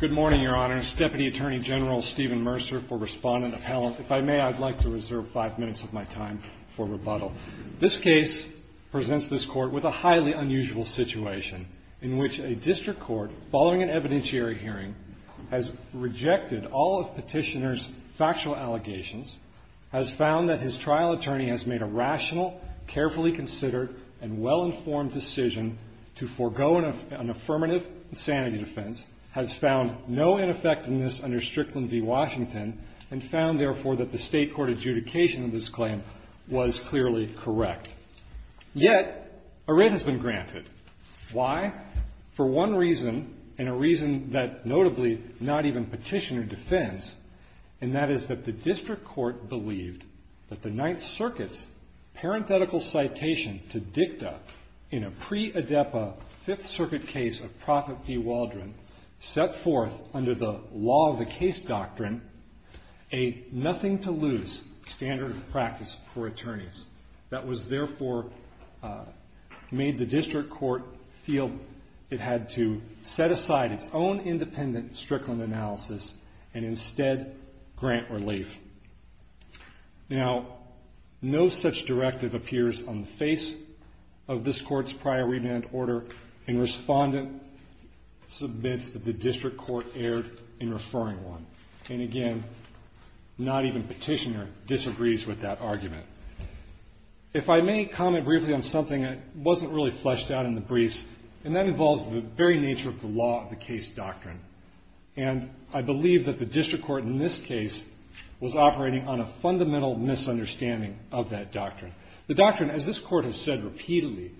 Good morning, Your Honor. Deputy Attorney General Stephen Mercer for Respondent Appellant. If I may, I'd like to reserve five minutes of my time for rebuttal. This case presents this Court with a highly unusual situation in which a district court, following an evidentiary hearing, has rejected all of petitioner's factual allegations, has found that his trial attorney has made a rational, carefully considered, and well-informed decision to forego an affirmative insanity defense, has found no ineffectiveness under Strickland v. Washington, and found, therefore, that the State Court adjudication of this claim was clearly correct. Yet, a writ has been granted. Why? For one reason, and a reason that, notably, not even petitioner defends, and that is that the district court believed that the Ninth Circuit's parenthetical citation to dicta in a pre-ADEPA Fifth Circuit case of Prophet v. Waldron set forth, under the law of the case doctrine, a nothing-to-lose standard of practice for attorneys. That was, therefore, made the district court feel it had to set aside its own independent Strickland analysis and, instead, grant relief. Now, no such directive appears on the face of this court's prior remand order, and respondent submits that the district court erred in referring one. And, again, not even petitioner disagrees with that argument. If I may comment briefly on something that wasn't really fleshed out in the briefs, and that involves the very nature of the law of the case doctrine. And I believe that the district court, in this case, was operating on a fundamental misunderstanding of that doctrine. The doctrine, as this court has said repeatedly,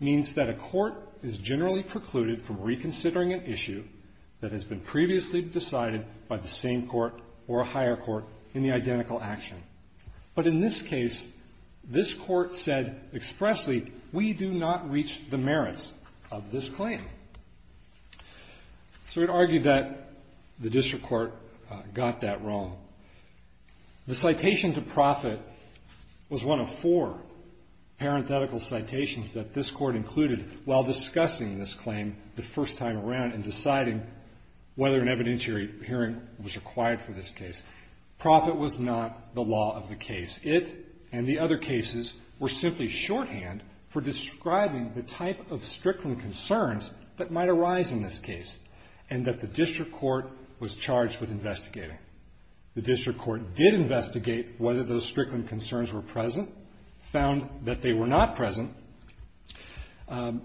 means that a court is generally precluded from reconsidering an issue that has been previously decided by the same court or a higher court in the identical action. But, in this case, this court said expressly, we do not reach the merits of this claim. So it argued that the district court got that wrong. The citation to profit was one of four parenthetical citations that this court included while discussing this claim the first time around and deciding whether an evidentiary hearing was required for this case. Profit was not the law of the case. It and the other cases were simply shorthand for describing the type of strickland concerns that might arise in this case, and that the district court was charged with investigating. The district court did investigate whether those strickland concerns were present, found that they were not present, and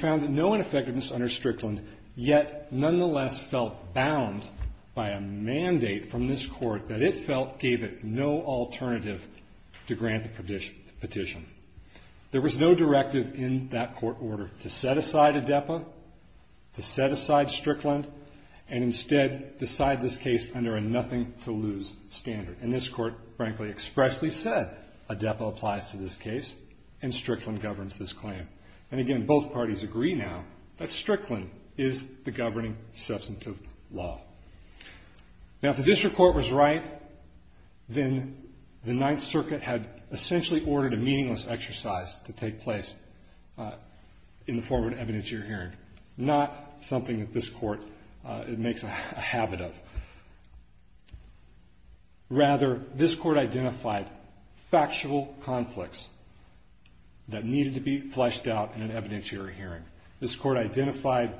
found no ineffectiveness under strickland, yet nonetheless felt bound by a mandate from this court that it felt gave it no alternative to grant the petition. There was no directive in that court order to set aside ADEPA, to set aside strickland, and instead decide this case under a nothing to lose standard. And this court, frankly, expressly said, ADEPA applies to this case and strickland governs this claim. And, again, both parties agree now that strickland is the governing substantive law. Now, if the district court was right, then the Ninth Circuit had essentially ordered a meaningless exercise to take place in the form of an evidentiary hearing, not something that this court makes a habit of. Rather, this court identified factual conflicts that needed to be fleshed out in an evidentiary hearing. This court identified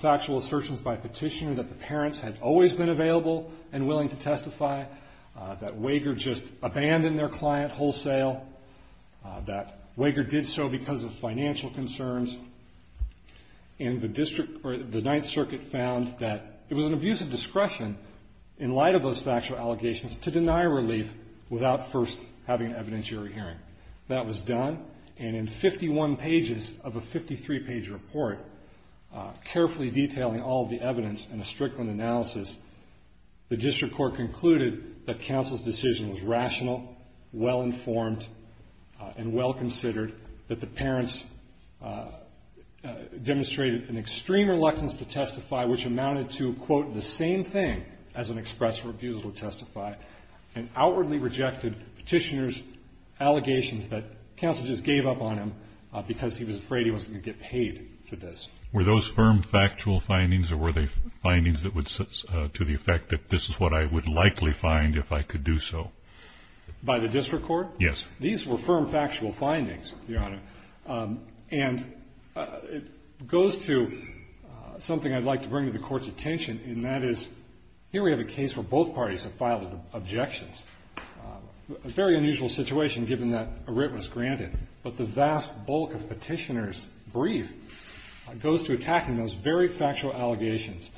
factual assertions by petitioner that the parents had always been available and willing to testify, that Wager just abandoned their client wholesale, that Wager did so because of financial concerns, and the district, or the Ninth Circuit, found that it was an abuse of discretion in light of those factual allegations to deny relief without first having an evidentiary hearing. That was done, and in 51 pages of a 53-page report, carefully detailing all of the evidence in a strickland analysis, the district court concluded that counsel's decision was rational, well-informed, and well-considered, that the parents demonstrated an extreme reluctance to testify, which amounted to, quote, the same thing as an express refusal to testify, and outwardly rejected petitioner's allegations that counsel just gave up on because he was afraid he wasn't going to get paid for this. Were those firm factual findings, or were they findings to the effect that this is what I would likely find if I could do so? By the district court? Yes. These were firm factual findings, Your Honor, and it goes to something I'd like to bring to the Court's attention, and that is here we have a case where both parties have filed objections, a very unusual situation given that a writ was granted, but the vast bulk of petitioner's brief goes to attacking those very factual allegations.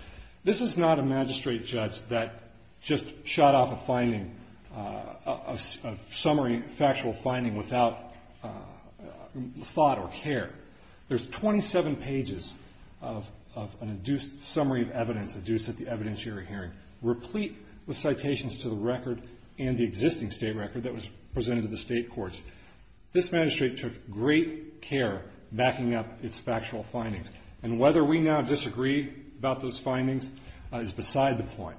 This is not a magistrate judge that just shot off a finding, a summary factual finding without thought or care. There's 27 pages of an induced summary of evidence, induced at the evidentiary hearing, replete with citations to the record and the existing state record that was presented to the state courts. This magistrate took great care backing up its factual findings, and whether we now disagree about those findings is beside the point.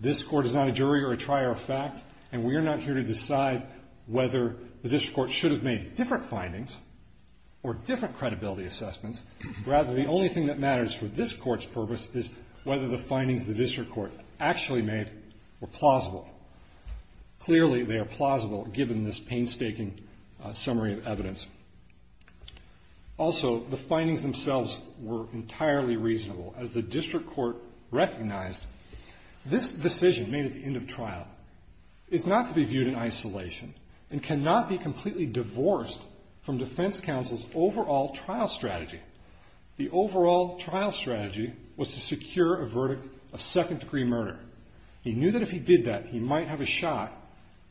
This Court is not a jury or a trier of fact, and we are not here to decide whether the district court should have made different findings or different credibility assessments. Rather, the only thing that matters for this Court's purpose is whether the findings the district court actually made were plausible. Clearly, they are plausible given this painstaking summary of evidence. Also, the findings themselves were entirely reasonable. As the district court recognized, this decision made at the end of trial is not to be viewed in isolation and cannot be completely divorced from defense counsel's overall trial strategy. The overall trial strategy was to secure a verdict of second-degree murder. He knew that if he did that, he might have a shot,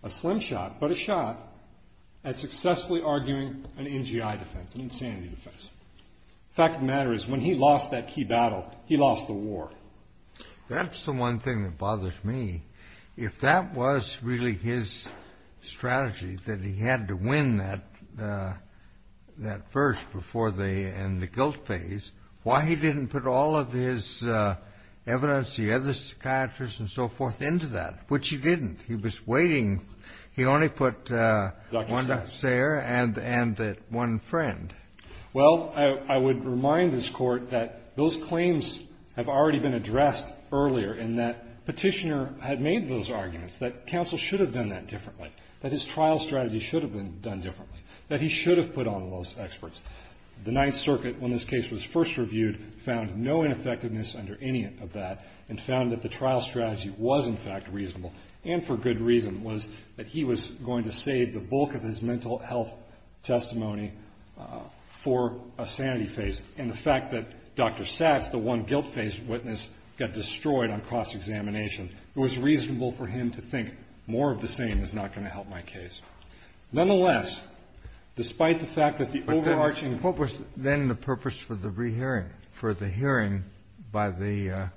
a slim shot, but a shot at successfully arguing an NGI defense, an insanity defense. The fact of the matter is when he lost that key battle, he lost the war. That's the one thing that bothers me. If that was really his strategy, that he had to win that first before they end the guilt phase, why he didn't put all of his evidence, the other psychiatrists and so forth, into that, which he didn't. He was waiting. He only put one nurse there and one friend. Well, I would remind this Court that those claims have already been addressed earlier in that Petitioner had made those arguments, that counsel should have done that differently, that his trial strategy should have been done differently, that he should have put on those experts. The Ninth Circuit, when this case was first reviewed, found no ineffectiveness under any of that and found that the trial strategy was in fact reasonable and for good reason was that he was going to save the bulk of his mental health testimony for a sanity phase. And the fact that Dr. Satz, the one guilt phase witness, got destroyed on cross-examination, it was reasonable for him to think more of the same is not going to help my case. Nonetheless, despite the fact that the overarching... What was then the purpose for the hearing by the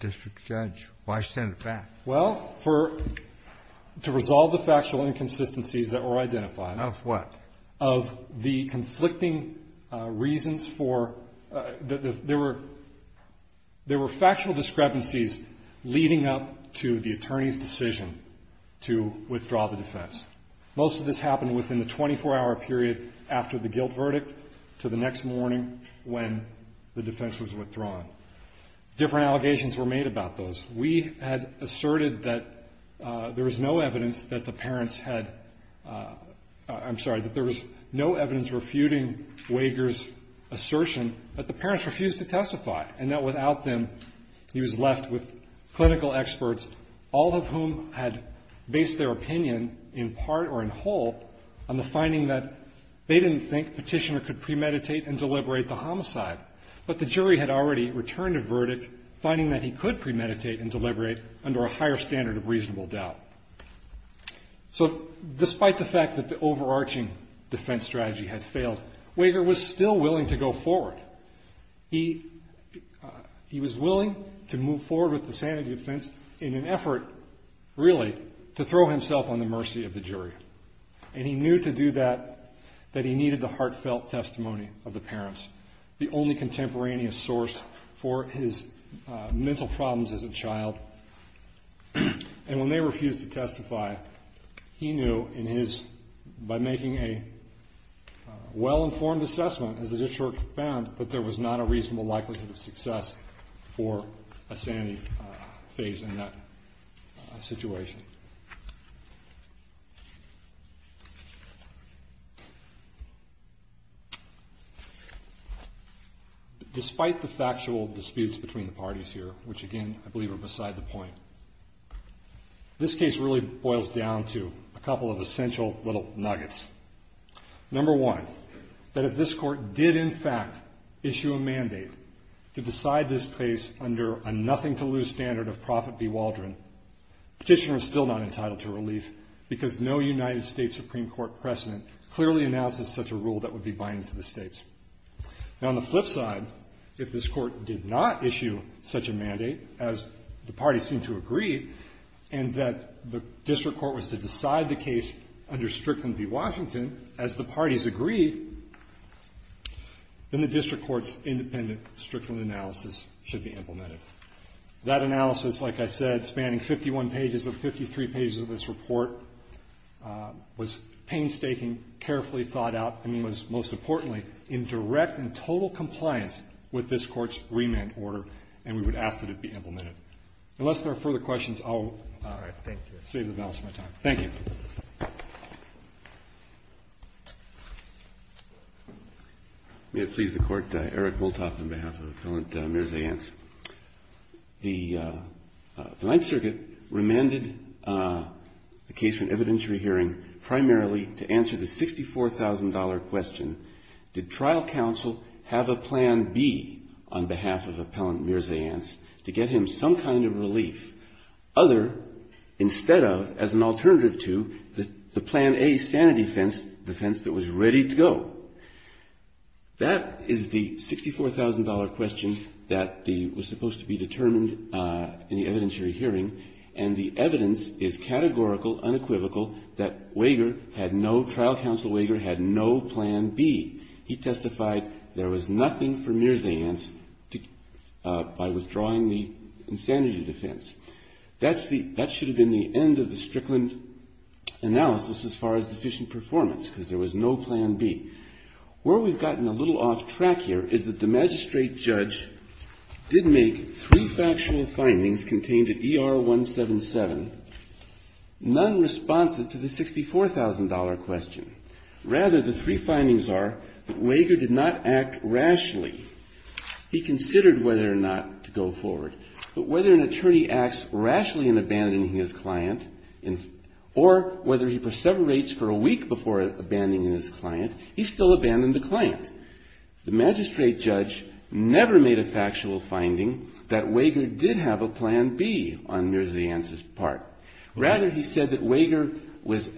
district judge? Why send it back? Well, to resolve the factual inconsistencies that were identified. Of what? Of the conflicting reasons for the... There were factual discrepancies leading up to the attorney's decision to withdraw the defense. Most of this happened within the 24-hour period after the guilt verdict to the next morning when the defense was withdrawn. Different allegations were made about those. We had asserted that there was no evidence that the parents had... I'm sorry, that there was no evidence refuting Wager's assertion that the parents refused to testify and that without them he was left with clinical experts, all of whom had based their opinion in part or in whole on the finding that they didn't think Petitioner could premeditate and deliberate the homicide, but the jury had already returned a verdict finding that he could premeditate and deliberate under a higher standard of reasonable doubt. So despite the fact that the overarching defense strategy had failed, Wager was still willing to go forward. He was willing to move forward with the sanity defense in an effort, really, to throw himself on the mercy of the jury. And he knew to do that that he needed the heartfelt testimony of the parents, the only contemporaneous source for his mental problems as a child. And when they refused to testify, he knew in his... as the district found, that there was not a reasonable likelihood of success for a sanity phase in that situation. Despite the factual disputes between the parties here, which, again, I believe are beside the point, this case really boils down to a couple of essential little nuggets. Number one, that if this court did, in fact, issue a mandate to decide this case under a nothing-to-lose standard of Prophet B. Waldron, Petitioner was still not entitled to relief because no United States Supreme Court precedent clearly announces such a rule that would be binding to the states. Now, on the flip side, if this court did not issue such a mandate, as the parties seemed to agree, and that the district court was to decide the case under Strickland v. Washington, as the parties agreed, then the district court's independent Strickland analysis should be implemented. That analysis, like I said, spanning 51 pages of 53 pages of this report, was painstaking, carefully thought out, and was, most importantly, in direct and total compliance with this court's remand order, and we would ask that it be implemented. Unless there are further questions, I'll save the balance of my time. Thank you. May it please the Court. Eric Wolthoff on behalf of Appellant Mears-Ans. The Ninth Circuit remanded the case for an evidentiary hearing primarily to answer the $64,000 question, did trial counsel have a plan B on behalf of Appellant Mears-Ans to get him some kind of relief, other, instead of, as an alternative to, the Plan A sanity defense that was ready to go? That is the $64,000 question that was supposed to be determined in the evidentiary hearing, and the evidence is categorical, unequivocal, that Wager had no, trial counsel Wager had no plan B. He testified there was nothing for Mears-Ans by withdrawing the insanity defense. That's the, that should have been the end of the Strickland analysis as far as deficient performance, because there was no plan B. Where we've gotten a little off track here is that the magistrate judge did make three factual findings contained at ER 177, none responsive to the $64,000 question. Rather, the three findings are that Wager did not act rashly. He considered whether or not to go forward. But whether an attorney acts rashly in abandoning his client, or whether he perseverates for a week before abandoning his client, he still abandoned the client. The magistrate judge never made a factual finding that Wager did have a plan B on Mears-Ans' part. Rather, he said that Wager was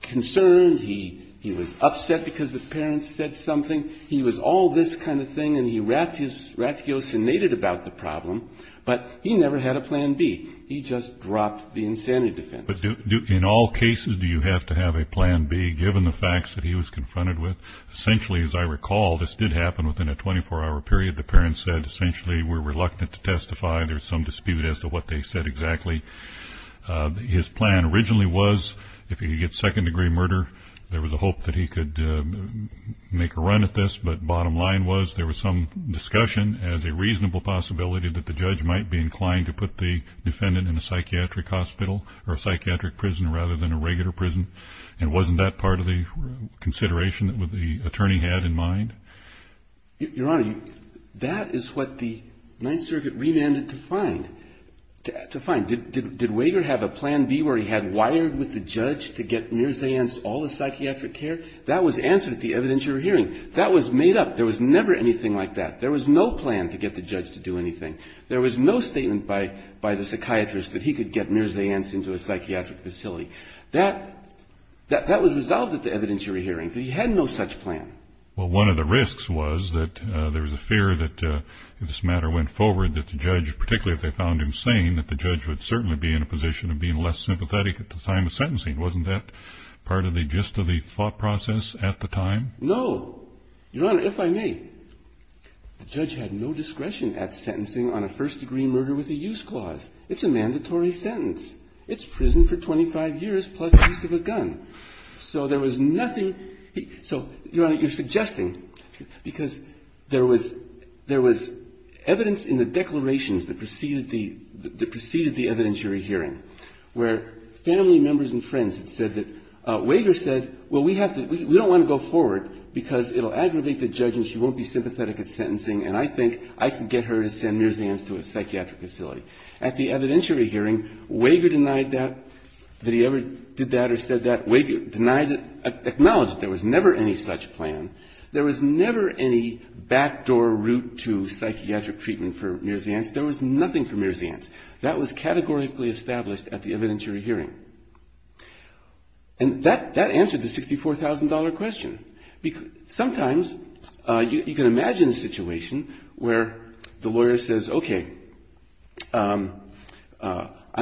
concerned. He was upset because the parents said something. He was all this kind of thing, and he rathiosinated about the problem. But he never had a plan B. He just dropped the insanity defense. But do, in all cases, do you have to have a plan B, given the facts that he was confronted with? Essentially, as I recall, this did happen within a 24-hour period. The parents said, essentially, we're reluctant to testify. There's some dispute as to what they said exactly. His plan originally was if he could get second-degree murder, there was a hope that he could make a run at this. But bottom line was there was some discussion as a reasonable possibility that the judge might be inclined to put the defendant in a psychiatric hospital or a psychiatric prison rather than a regular prison. And wasn't that part of the consideration that the attorney had in mind? Your Honor, that is what the Ninth Circuit remanded to find. Did Wager have a plan B where he had wired with the judge to get Mirza Yance all the psychiatric care? That was answered at the evidentiary hearing. That was made up. There was never anything like that. There was no plan to get the judge to do anything. There was no statement by the psychiatrist that he could get Mirza Yance into a psychiatric facility. That was resolved at the evidentiary hearing. He had no such plan. Well, one of the risks was that there was a fear that if this matter went forward that the judge, particularly if they found him sane, that the judge would certainly be in a position of being less sympathetic at the time of sentencing. Wasn't that part of the gist of the thought process at the time? No. Your Honor, if I may, the judge had no discretion at sentencing on a first-degree murder with a use clause. It's a mandatory sentence. It's prison for 25 years plus the use of a gun. So there was nothing. So, Your Honor, you're suggesting, because there was evidence in the declarations that preceded the evidentiary hearing where family members and friends had said that Wager said, well, we don't want to go forward because it will aggravate the judge and she won't be sympathetic at sentencing and I think I can get her to send Mirza Yance to a psychiatric facility. At the evidentiary hearing, Wager denied that, that he ever did that or said that. Wager denied it, acknowledged that there was never any such plan. There was never any backdoor route to psychiatric treatment for Mirza Yance. There was nothing for Mirza Yance. That was categorically established at the evidentiary hearing. And that answered the $64,000 question. I'm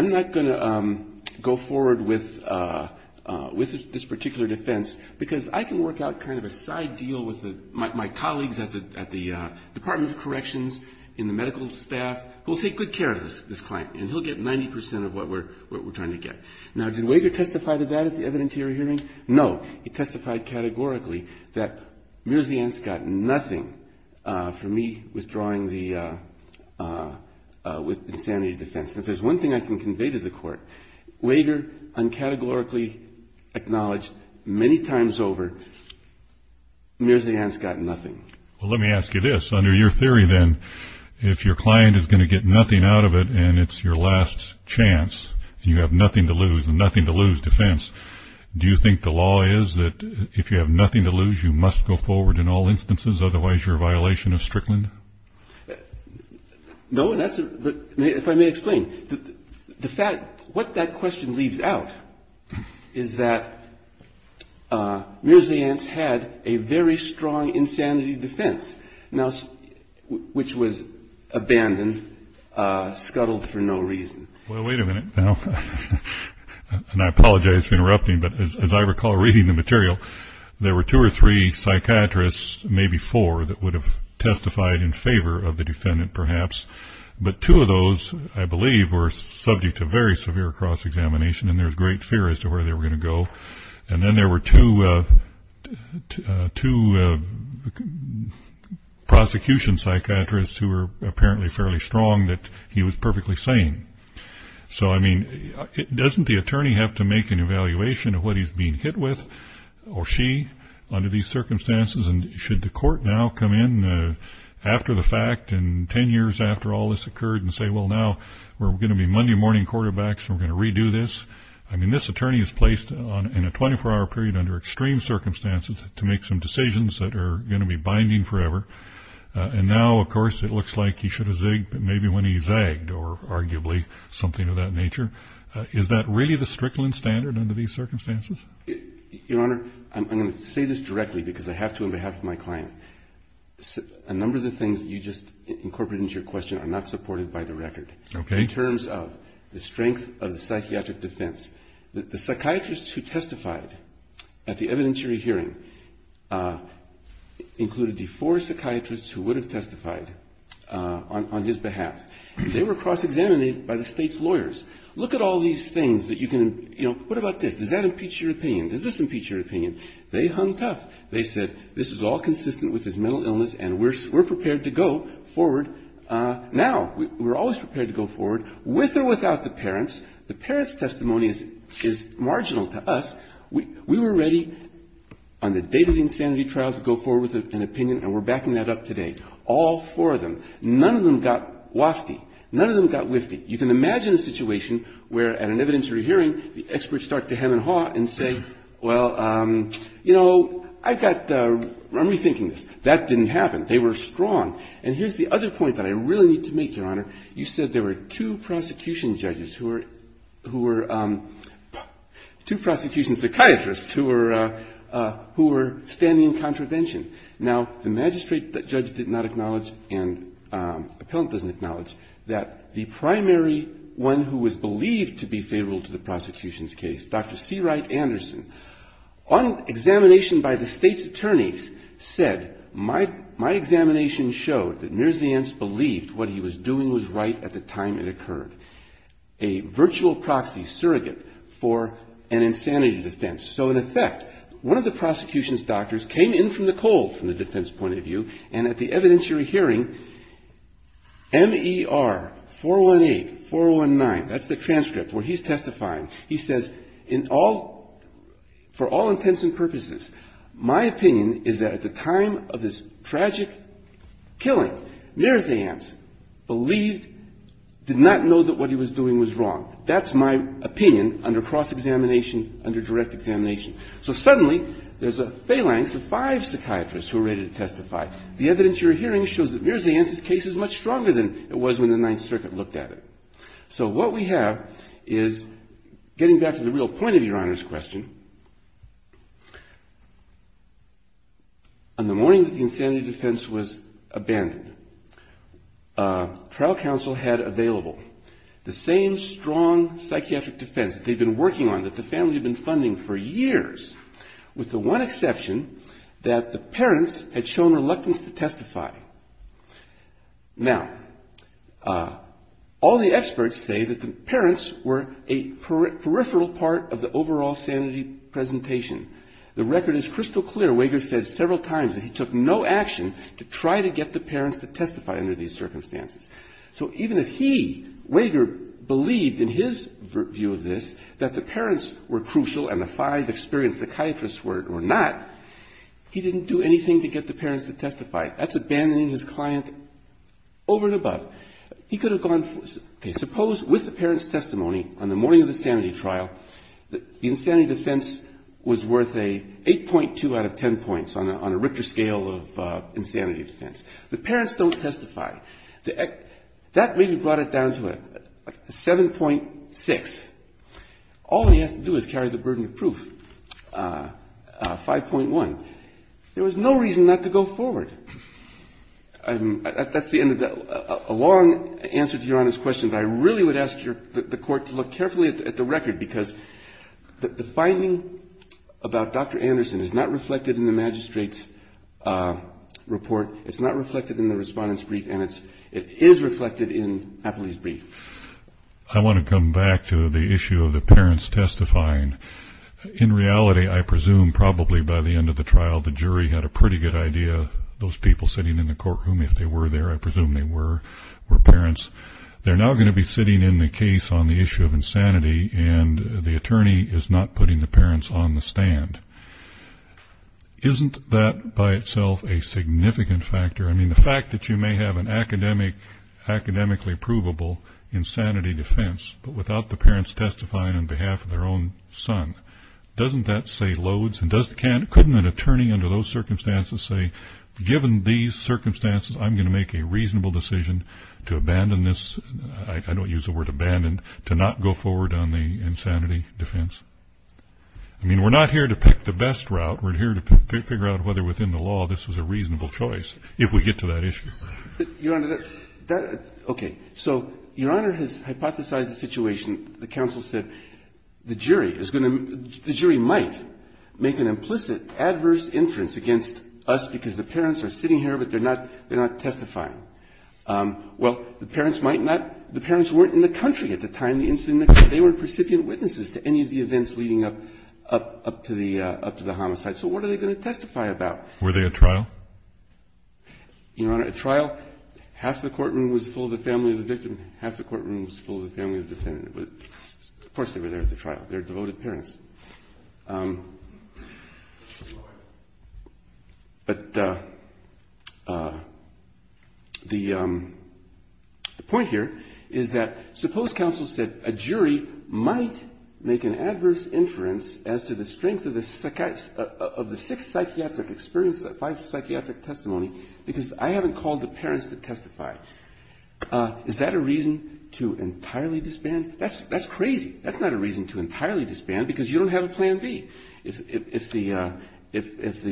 not going to go forward with this particular defense because I can work out kind of a side deal with my colleagues at the Department of Corrections in the medical staff who will take good care of this client and he'll get 90 percent of what we're trying to get. Now, did Wager testify to that at the evidentiary hearing? No. He testified categorically that Mirza Yance got nothing from me withdrawing with insanity defense. If there's one thing I can convey to the court, Wager uncategorically acknowledged many times over Mirza Yance got nothing. Well, let me ask you this. Under your theory then, if your client is going to get nothing out of it and it's your last chance and you have nothing to lose, nothing to lose defense, do you think the law is that if you have nothing to lose you must go forward in all instances otherwise you're a violation of Strickland? No. If I may explain, what that question leaves out is that Mirza Yance had a very strong insanity defense which was abandoned, scuttled for no reason. Well, wait a minute now. And I apologize for interrupting, but as I recall reading the material, there were two or three psychiatrists, maybe four, that would have testified in favor of the defendant perhaps, but two of those, I believe, were subject to very severe cross-examination and there was great fear as to where they were going to go. And then there were two prosecution psychiatrists who were apparently fairly strong that he was perfectly sane. So, I mean, doesn't the attorney have to make an evaluation of what he's being hit with, or she, under these circumstances? And should the court now come in after the fact and ten years after all this occurred and say, well, now we're going to be Monday morning quarterbacks and we're going to redo this? I mean, this attorney is placed in a 24-hour period under extreme circumstances to make some decisions that are going to be binding forever. And now, of course, it looks like he should have zigged maybe when he zagged or arguably something of that nature. Is that really the Strickland standard under these circumstances? Your Honor, I'm going to say this directly because I have to on behalf of my client. A number of the things that you just incorporated into your question are not supported by the record. Okay. In terms of the strength of the psychiatric defense. The psychiatrists who testified at the evidentiary hearing included the four psychiatrists who would have testified on his behalf. They were cross-examinated by the State's lawyers. Look at all these things that you can, you know, what about this? Does that impeach your opinion? Does this impeach your opinion? They hung tough. They said this is all consistent with his mental illness and we're prepared to go forward now. We're always prepared to go forward with or without the parents. The parents' testimony is marginal to us. We were ready on the date of the insanity trials to go forward with an opinion and we're backing that up today. All four of them. None of them got wafty. None of them got wifty. You can imagine a situation where at an evidentiary hearing, the experts start to hem and haw and say, well, you know, I've got, I'm rethinking this. That didn't happen. They were strong. And here's the other point that I really need to make, Your Honor. You said there were two prosecution judges who were, two prosecution psychiatrists who were standing in contravention. Now, the magistrate judge did not acknowledge and the appellant doesn't acknowledge that the primary one who was believed to be favorable to the prosecution's case, Dr. C. Wright Anderson, on examination by the State's attorneys, said, my examination showed that Mirziens believed what he was doing was right at the time it occurred. A virtual proxy surrogate for an insanity defense. So in effect, one of the prosecution's doctors came in from the cold from the defense point of view and at the evidentiary hearing, M.E.R. 418, 419, that's the transcript where he's testifying. He says, in all, for all intents and purposes, my opinion is that at the time of this tragic killing, Mirziens believed, did not know that what he was doing was wrong. That's my opinion under cross-examination, under direct examination. So suddenly, there's a phalanx of five psychiatrists who are ready to testify. The evidentiary hearing shows that Mirziens' case is much stronger than it was when the Ninth Circuit looked at it. So what we have is, getting back to the real point of Your Honor's question, on the morning that the insanity defense was abandoned, trial counsel had available the same strong psychiatric defense that they'd been working on, that the family had been funding for years, with the one exception that the parents had shown reluctance to testify. Now, all the experts say that the parents were a peripheral part of the overall sanity presentation. The record is crystal clear. Wager says several times that he took no action to try to get the parents to testify under these circumstances. So even if he, Wager, believed in his view of this that the parents were crucial and the five experienced psychiatrists were not, he didn't do anything to get the parents to testify. That's abandoning his client over and above. He could have gone, okay, suppose with the parents' testimony on the morning of the sanity trial, the insanity defense was worth a 8.2 out of 10 points on a Richter scale of insanity defense. The parents don't testify. That really brought it down to a 7.6. All he has to do is carry the burden of proof, 5.1. There was no reason not to go forward. That's the end of a long answer to Your Honor's question, but I really would ask the Court to look carefully at the record, because the finding about Dr. Anderson is not reflected in the magistrate's report, it's not reflected in the respondent's brief, and it is reflected in Appley's brief. I want to come back to the issue of the parents testifying. In reality, I presume probably by the end of the trial the jury had a pretty good idea those people sitting in the courtroom, if they were there, I presume they were, were parents. They're now going to be sitting in the case on the issue of insanity, and the attorney is not putting the parents on the stand. Isn't that by itself a significant factor? I mean, the fact that you may have an academically provable insanity defense, but without the parents testifying on behalf of their own son, doesn't that say loads? And couldn't an attorney under those circumstances say, given these circumstances, I'm going to make a reasonable decision to abandon this, I don't use the word abandon, to not go forward on the insanity defense? I mean, we're not here to pick the best route. We're here to figure out whether within the law this is a reasonable choice, if we get to that issue. Your Honor, that, okay. So Your Honor has hypothesized the situation, the counsel said, the jury is going to, the jury might make an implicit adverse inference against us because the parents are sitting here, but they're not, they're not testifying. Well, the parents might not, the parents weren't in the country at the time of the incident, because they weren't precipient witnesses to any of the events leading up to the homicide. So what are they going to testify about? Were they at trial? Your Honor, at trial, half the courtroom was full of the family of the victim, half the courtroom was full of the family of the defendant. Of course they were there at the trial. They're devoted parents. But the point here is that suppose counsel said a jury might make an adverse inference as to the strength of the six psychiatric experiences, five psychiatric testimony, because I haven't called the parents to testify. Is that a reason to entirely disband? That's crazy. That's not a reason to entirely disband because you don't have a plan B. If the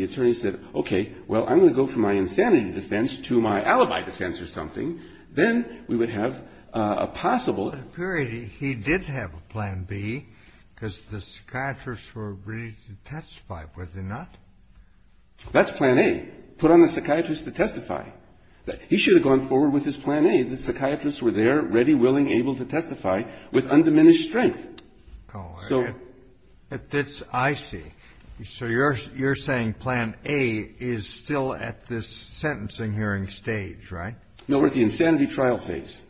attorney said, okay, well, I'm going to go from my insanity defense to my alibi defense or something, then we would have a possible. But apparently he did have a plan B because the psychiatrists were ready to testify. Were they not? That's plan A, put on the psychiatrist to testify. He should have gone forward with his plan A. The psychiatrists were there, ready, willing, able to testify with undiminished strength. I see. So you're saying plan A is still at this sentencing hearing stage, right? No, we're at the insanity trial phase.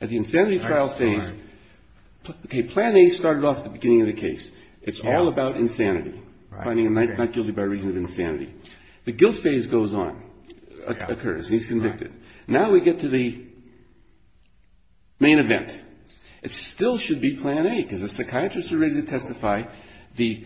At the insanity trial phase, okay, plan A started off at the beginning of the case. It's all about insanity, finding a not guilty by reason of insanity. The guilt phase goes on, occurs, and he's convicted. Now we get to the main event. It still should be plan A because the psychiatrists are ready to testify. The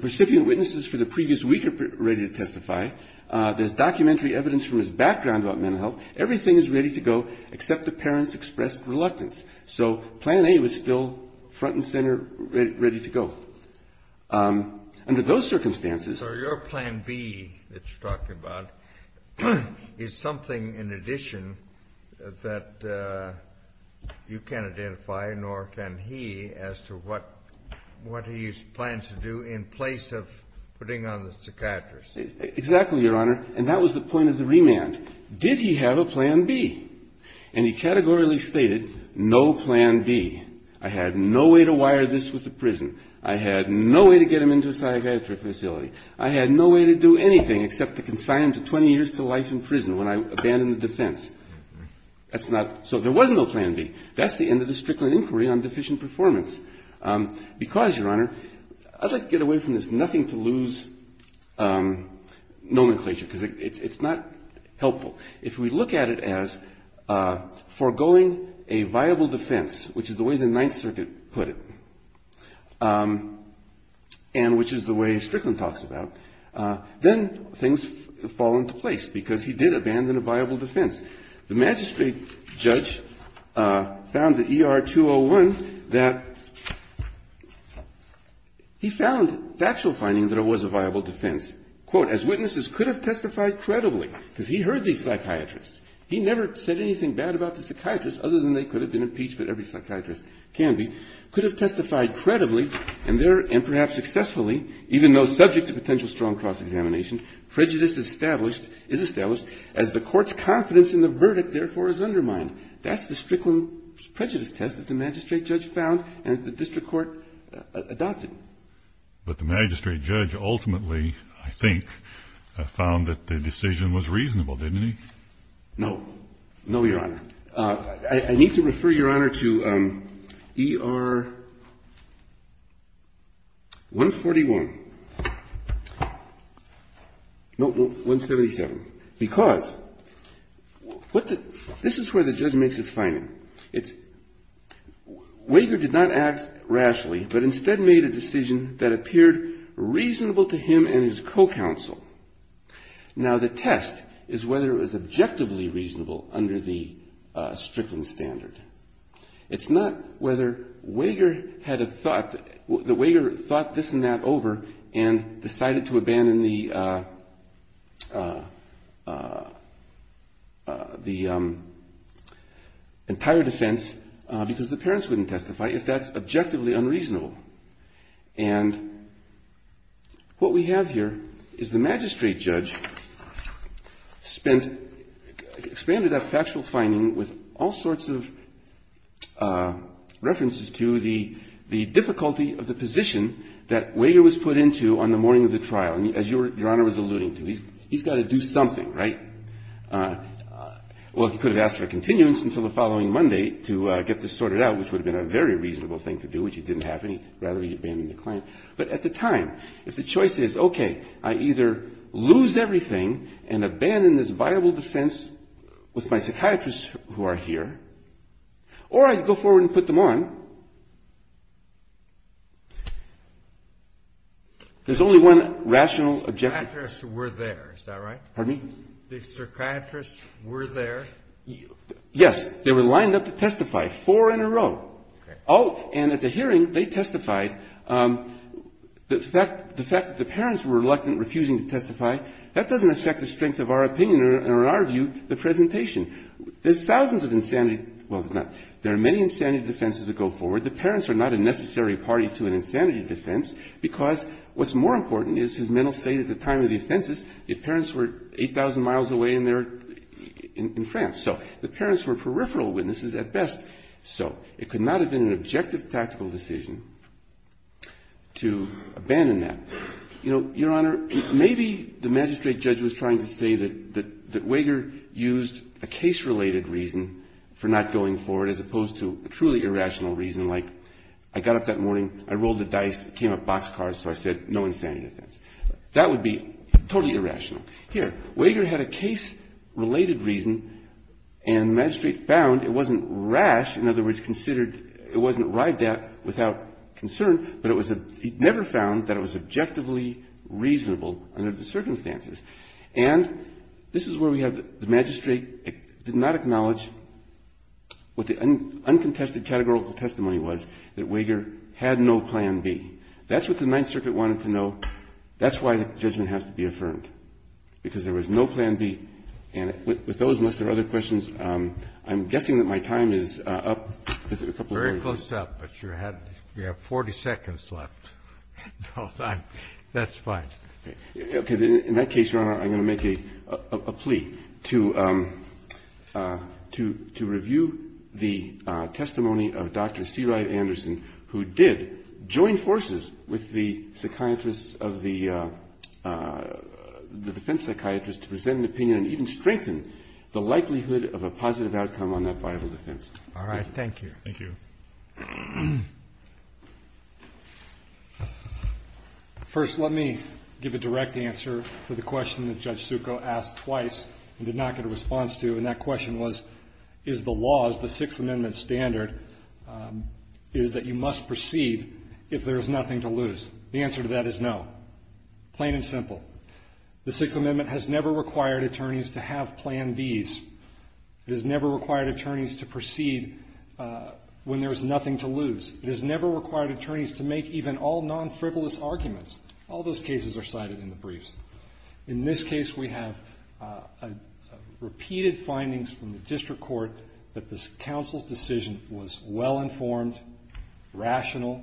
precipient witnesses for the previous week are ready to testify. There's documentary evidence from his background about mental health. Everything is ready to go except the parents expressed reluctance. So plan A was still front and center, ready to go. Under those circumstances So your plan B that you're talking about is something in addition that you can't identify, nor can he, as to what he plans to do in place of putting on the psychiatrist. Exactly, Your Honor. And that was the point of the remand. Did he have a plan B? And he categorically stated no plan B. I had no way to wire this with the prison. I had no way to get him into a psychiatric facility. I had no way to do anything except to consign him to 20 years to life in prison when I abandoned the defense. That's not So there was no plan B. That's the end of the Strickland inquiry on deficient performance. Because, Your Honor, I'd like to get away from this nothing to lose nomenclature because it's not helpful. If we look at it as foregoing a viable defense, which is the way the Ninth Circuit put it, and which is the way Strickland talks about, then things fall into place because he did abandon a viable defense. The magistrate judge found at ER 201 that he found factual findings that it was a viable defense. Quote, as witnesses could have testified credibly because he heard these psychiatrists. He never said anything bad about the psychiatrists other than they could have been impeached, but every psychiatrist can be, could have testified credibly and perhaps successfully, even though subject to potential strong cross-examination, prejudice is established as the court's confidence in the verdict, therefore, is undermined. That's the Strickland prejudice test that the magistrate judge found and the district court adopted. But the magistrate judge ultimately, I think, found that the decision was reasonable, didn't he? No. No, Your Honor. I need to refer, Your Honor, to ER 141. No, 177. Because what the, this is where the judgment is finding. It's, Wager did not act rashly, but instead made a decision that appeared reasonable to him and his co-counsel. Now, the test is whether it was objectively reasonable under the Strickland standard. It's not whether Wager had a thought, that Wager thought this and that over and decided to abandon the, the entire defense because the parents wouldn't testify if that's objectively unreasonable. And what we have here is the magistrate judge spent, expanded that factual finding with all sorts of references to the, the difficulty of the position that Wager was put into on the morning of the trial. And as Your Honor was alluding to, he's got to do something, right? Well, he could have asked for a continuance until the following Monday to get this rather than abandoning the client. But at the time, if the choice is, okay, I either lose everything and abandon this viable defense with my psychiatrists who are here, or I go forward and put them on, there's only one rational objection. Psychiatrists were there. Is that right? Pardon me? The psychiatrists were there? Yes. They were lined up to testify, four in a row. Okay. Oh, and at the hearing, they testified. The fact, the fact that the parents were reluctant, refusing to testify, that doesn't affect the strength of our opinion or, in our view, the presentation. There's thousands of insanity, well, it's not. There are many insanity defenses that go forward. The parents are not a necessary party to an insanity defense because what's more important is his mental state at the time of the offenses. The parents were 8,000 miles away and they're in, in France. So the parents were peripheral witnesses at best. So it could not have been an objective tactical decision to abandon that. You know, Your Honor, maybe the magistrate judge was trying to say that, that, that Wager used a case-related reason for not going forward as opposed to a truly irrational reason like I got up that morning, I rolled the dice, it came up boxcars, so I said no insanity defense. That would be totally irrational. Here, Wager had a case-related reason and the magistrate found it wasn't rash, in other words, considered, it wasn't arrived at without concern, but it was a, he never found that it was objectively reasonable under the circumstances. And this is where we have the magistrate did not acknowledge what the uncontested categorical testimony was, that Wager had no plan B. That's what the Ninth Circuit wanted to know. That's why the judgment has to be affirmed. Because there was no plan B. And with those, unless there are other questions, I'm guessing that my time is up. A couple of minutes. Very close up, but you have 40 seconds left. That's fine. Okay. In that case, Your Honor, I'm going to make a plea to review the testimony of Dr. C. Wright Anderson, who did join forces with the psychiatrists of the defense psychiatrists to present an opinion and even strengthen the likelihood of a positive outcome on that viable defense. All right. Thank you. Thank you. First, let me give a direct answer to the question that Judge Succo asked twice and did not get a response to. And that question was, is the law, is the Sixth Amendment standard, is that you must proceed if there is nothing to lose? The answer to that is no. Plain and simple. The Sixth Amendment has never required attorneys to have plan Bs. It has never required attorneys to proceed when there is nothing to lose. It has never required attorneys to make even all non-frivolous arguments. All those cases are cited in the briefs. In this case, we have repeated findings from the district court that the counsel's decision was well-informed, rational,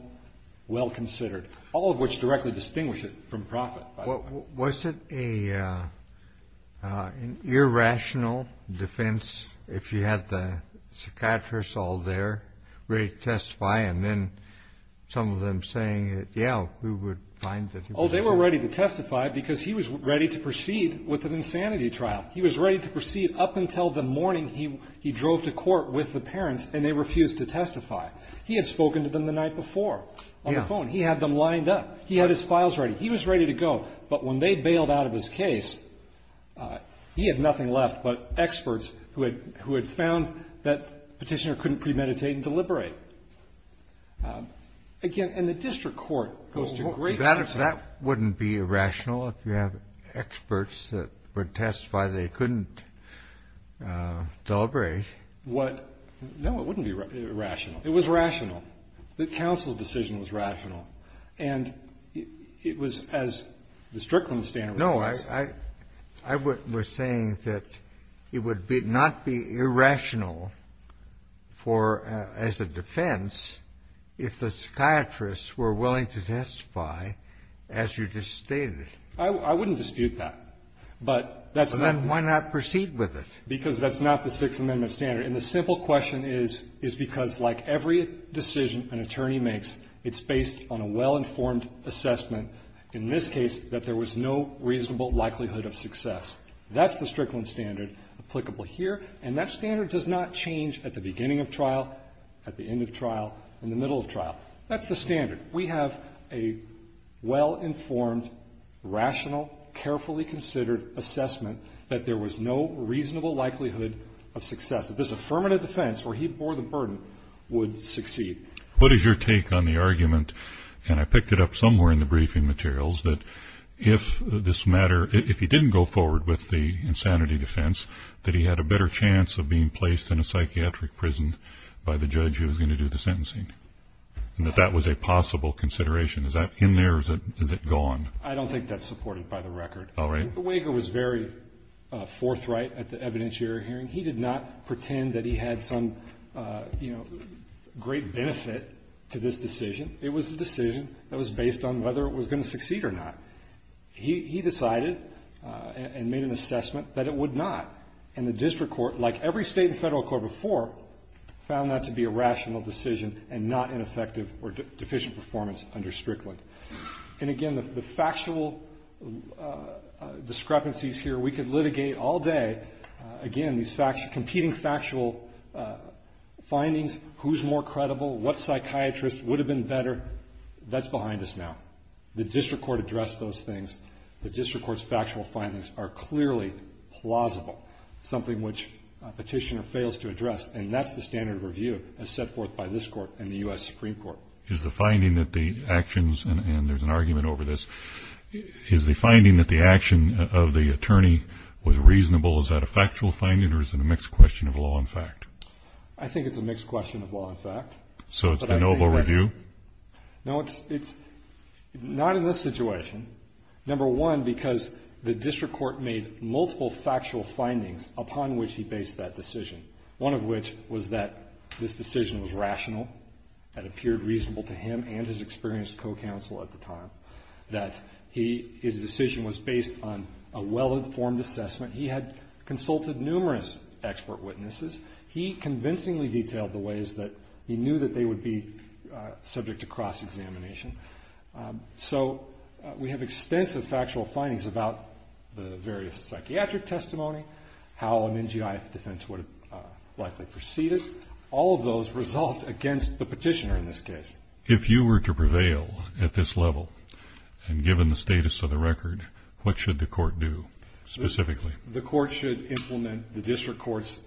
well-considered, all of which directly distinguish it from profit, by the way. Was it an irrational defense if you had the psychiatrists all there, ready to testify, and then some of them saying, yeah, we would find that he wasn't? Oh, they were ready to testify because he was ready to proceed with an insanity trial. He was ready to proceed up until the morning he drove to court with the parents and they refused to testify. He had spoken to them the night before on the phone. He had them lined up. He had his files ready. He was ready to go. But when they bailed out of his case, he had nothing left but experts who had found that Petitioner couldn't premeditate and deliberate. Again, and the district court goes to great lengths to help. That wouldn't be irrational if you have experts that would testify they couldn't deliberate. What? No, it wouldn't be irrational. It was rational. The counsel's decision was rational. And it was as the Strickland standard was. No, I was saying that it would not be irrational for, as a defense, if the psychiatrists were willing to testify as you just stated. I wouldn't dispute that. But that's not. Then why not proceed with it? Because that's not the Sixth Amendment standard. And the simple question is, is because like every decision an attorney makes, it's based on a well-informed assessment. In this case, that there was no reasonable likelihood of success. That's the Strickland standard applicable here. And that standard does not change at the beginning of trial, at the end of trial, in the middle of trial. That's the standard. We have a well-informed, rational, carefully considered assessment that there was no reasonable likelihood of success, that this affirmative defense, where he bore the burden, would succeed. What is your take on the argument, and I picked it up somewhere in the briefing materials, that if this matter, if he didn't go forward with the insanity defense, that he had a better chance of being placed in a psychiatric prison by the judge who was going to do the sentencing? And that that was a possible consideration. Is that in there, or is it gone? I don't think that's supported by the record. All right. The wager was very forthright at the evidentiary hearing. He did not pretend that he had some great benefit to this decision. It was a decision that was based on whether it was going to succeed or not. He decided and made an assessment that it would not. And the district court, like every state and federal court before, found that to be a rational decision and not an effective or deficient performance under Strickland. And, again, the factual discrepancies here, we could litigate all day. Again, these competing factual findings, who's more credible, what psychiatrist would have been better, that's behind us now. The district court addressed those things. The district court's factual findings are clearly plausible, something which a petitioner fails to address. And that's the standard of review as set forth by this Court and the U.S. Supreme Court. Is the finding that the actions, and there's an argument over this, is the finding that the action of the attorney was reasonable, is that a factual finding or is it a mixed question of law and fact? I think it's a mixed question of law and fact. So it's a novel review? No, it's not in this situation, number one, because the district court made multiple factual findings upon which he based that decision, one of which was that this decision was rational, that it appeared reasonable to him and his experienced co-counsel at the time. That his decision was based on a well-informed assessment. He had consulted numerous expert witnesses. He convincingly detailed the ways that he knew that they would be subject to cross-examination. So we have extensive factual findings about the various psychiatric testimony, how an NGI defense would have likely proceeded. All of those result against the petitioner in this case. If you were to prevail at this level, and given the status of the record, what should the court do specifically? The court should implement the district court's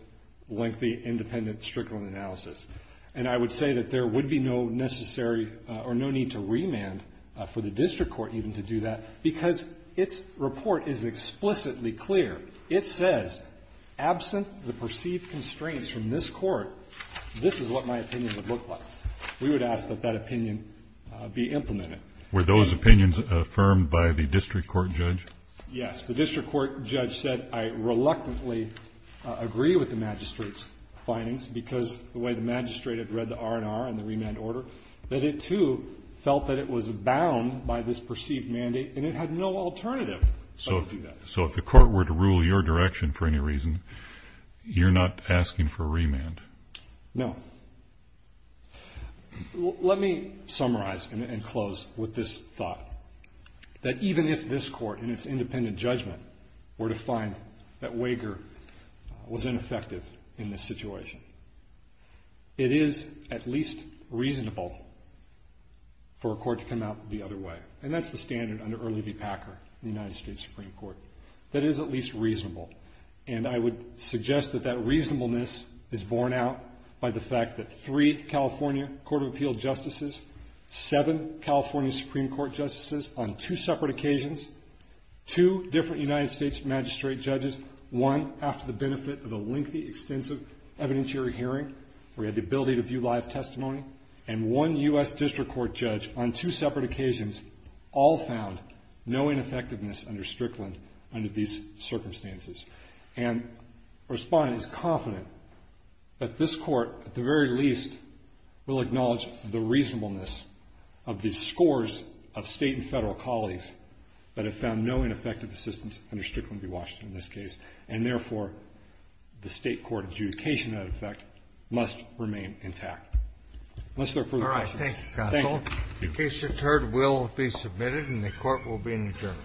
lengthy, independent, stricter analysis. And I would say that there would be no necessary or no need to remand for the district court even to do that because its report is explicitly clear. It says, absent the perceived constraints from this court, this is what my opinion would look like. We would ask that that opinion be implemented. Were those opinions affirmed by the district court judge? Yes. The district court judge said, I reluctantly agree with the magistrate's findings because the way the magistrate had read the R&R and the remand order, that it too felt that it was bound by this perceived mandate and it had no alternative. So if the court were to rule your direction for any reason, you're not asking for a remand? No. Let me summarize and close with this thought, that even if this court in its independent judgment were to find that Wager was ineffective in this situation, it is at least reasonable for a court to come out the other way. And that's the standard under Early v. Packer in the United States Supreme Court. That is at least reasonable. And I would suggest that that reasonableness is borne out by the fact that three California Court of Appeal justices, seven California Supreme Court justices on two separate occasions, two different United States magistrate judges, one after the benefit of a lengthy, extensive evidentiary hearing where we had the ability to view live testimony, and one U.S. district court judge on two separate occasions all found no ineffectiveness under Strickland under these circumstances. And Respondent is confident that this court at the very least will acknowledge the reasonableness of the scores of State and Federal colleagues that have found no ineffective assistance under Strickland v. Washington in this case, and therefore the State court adjudication, in effect, must remain intact. Unless there are further questions. All right. Thank you, Counsel. Thank you. The case is heard, will be submitted, and the court will be adjourned.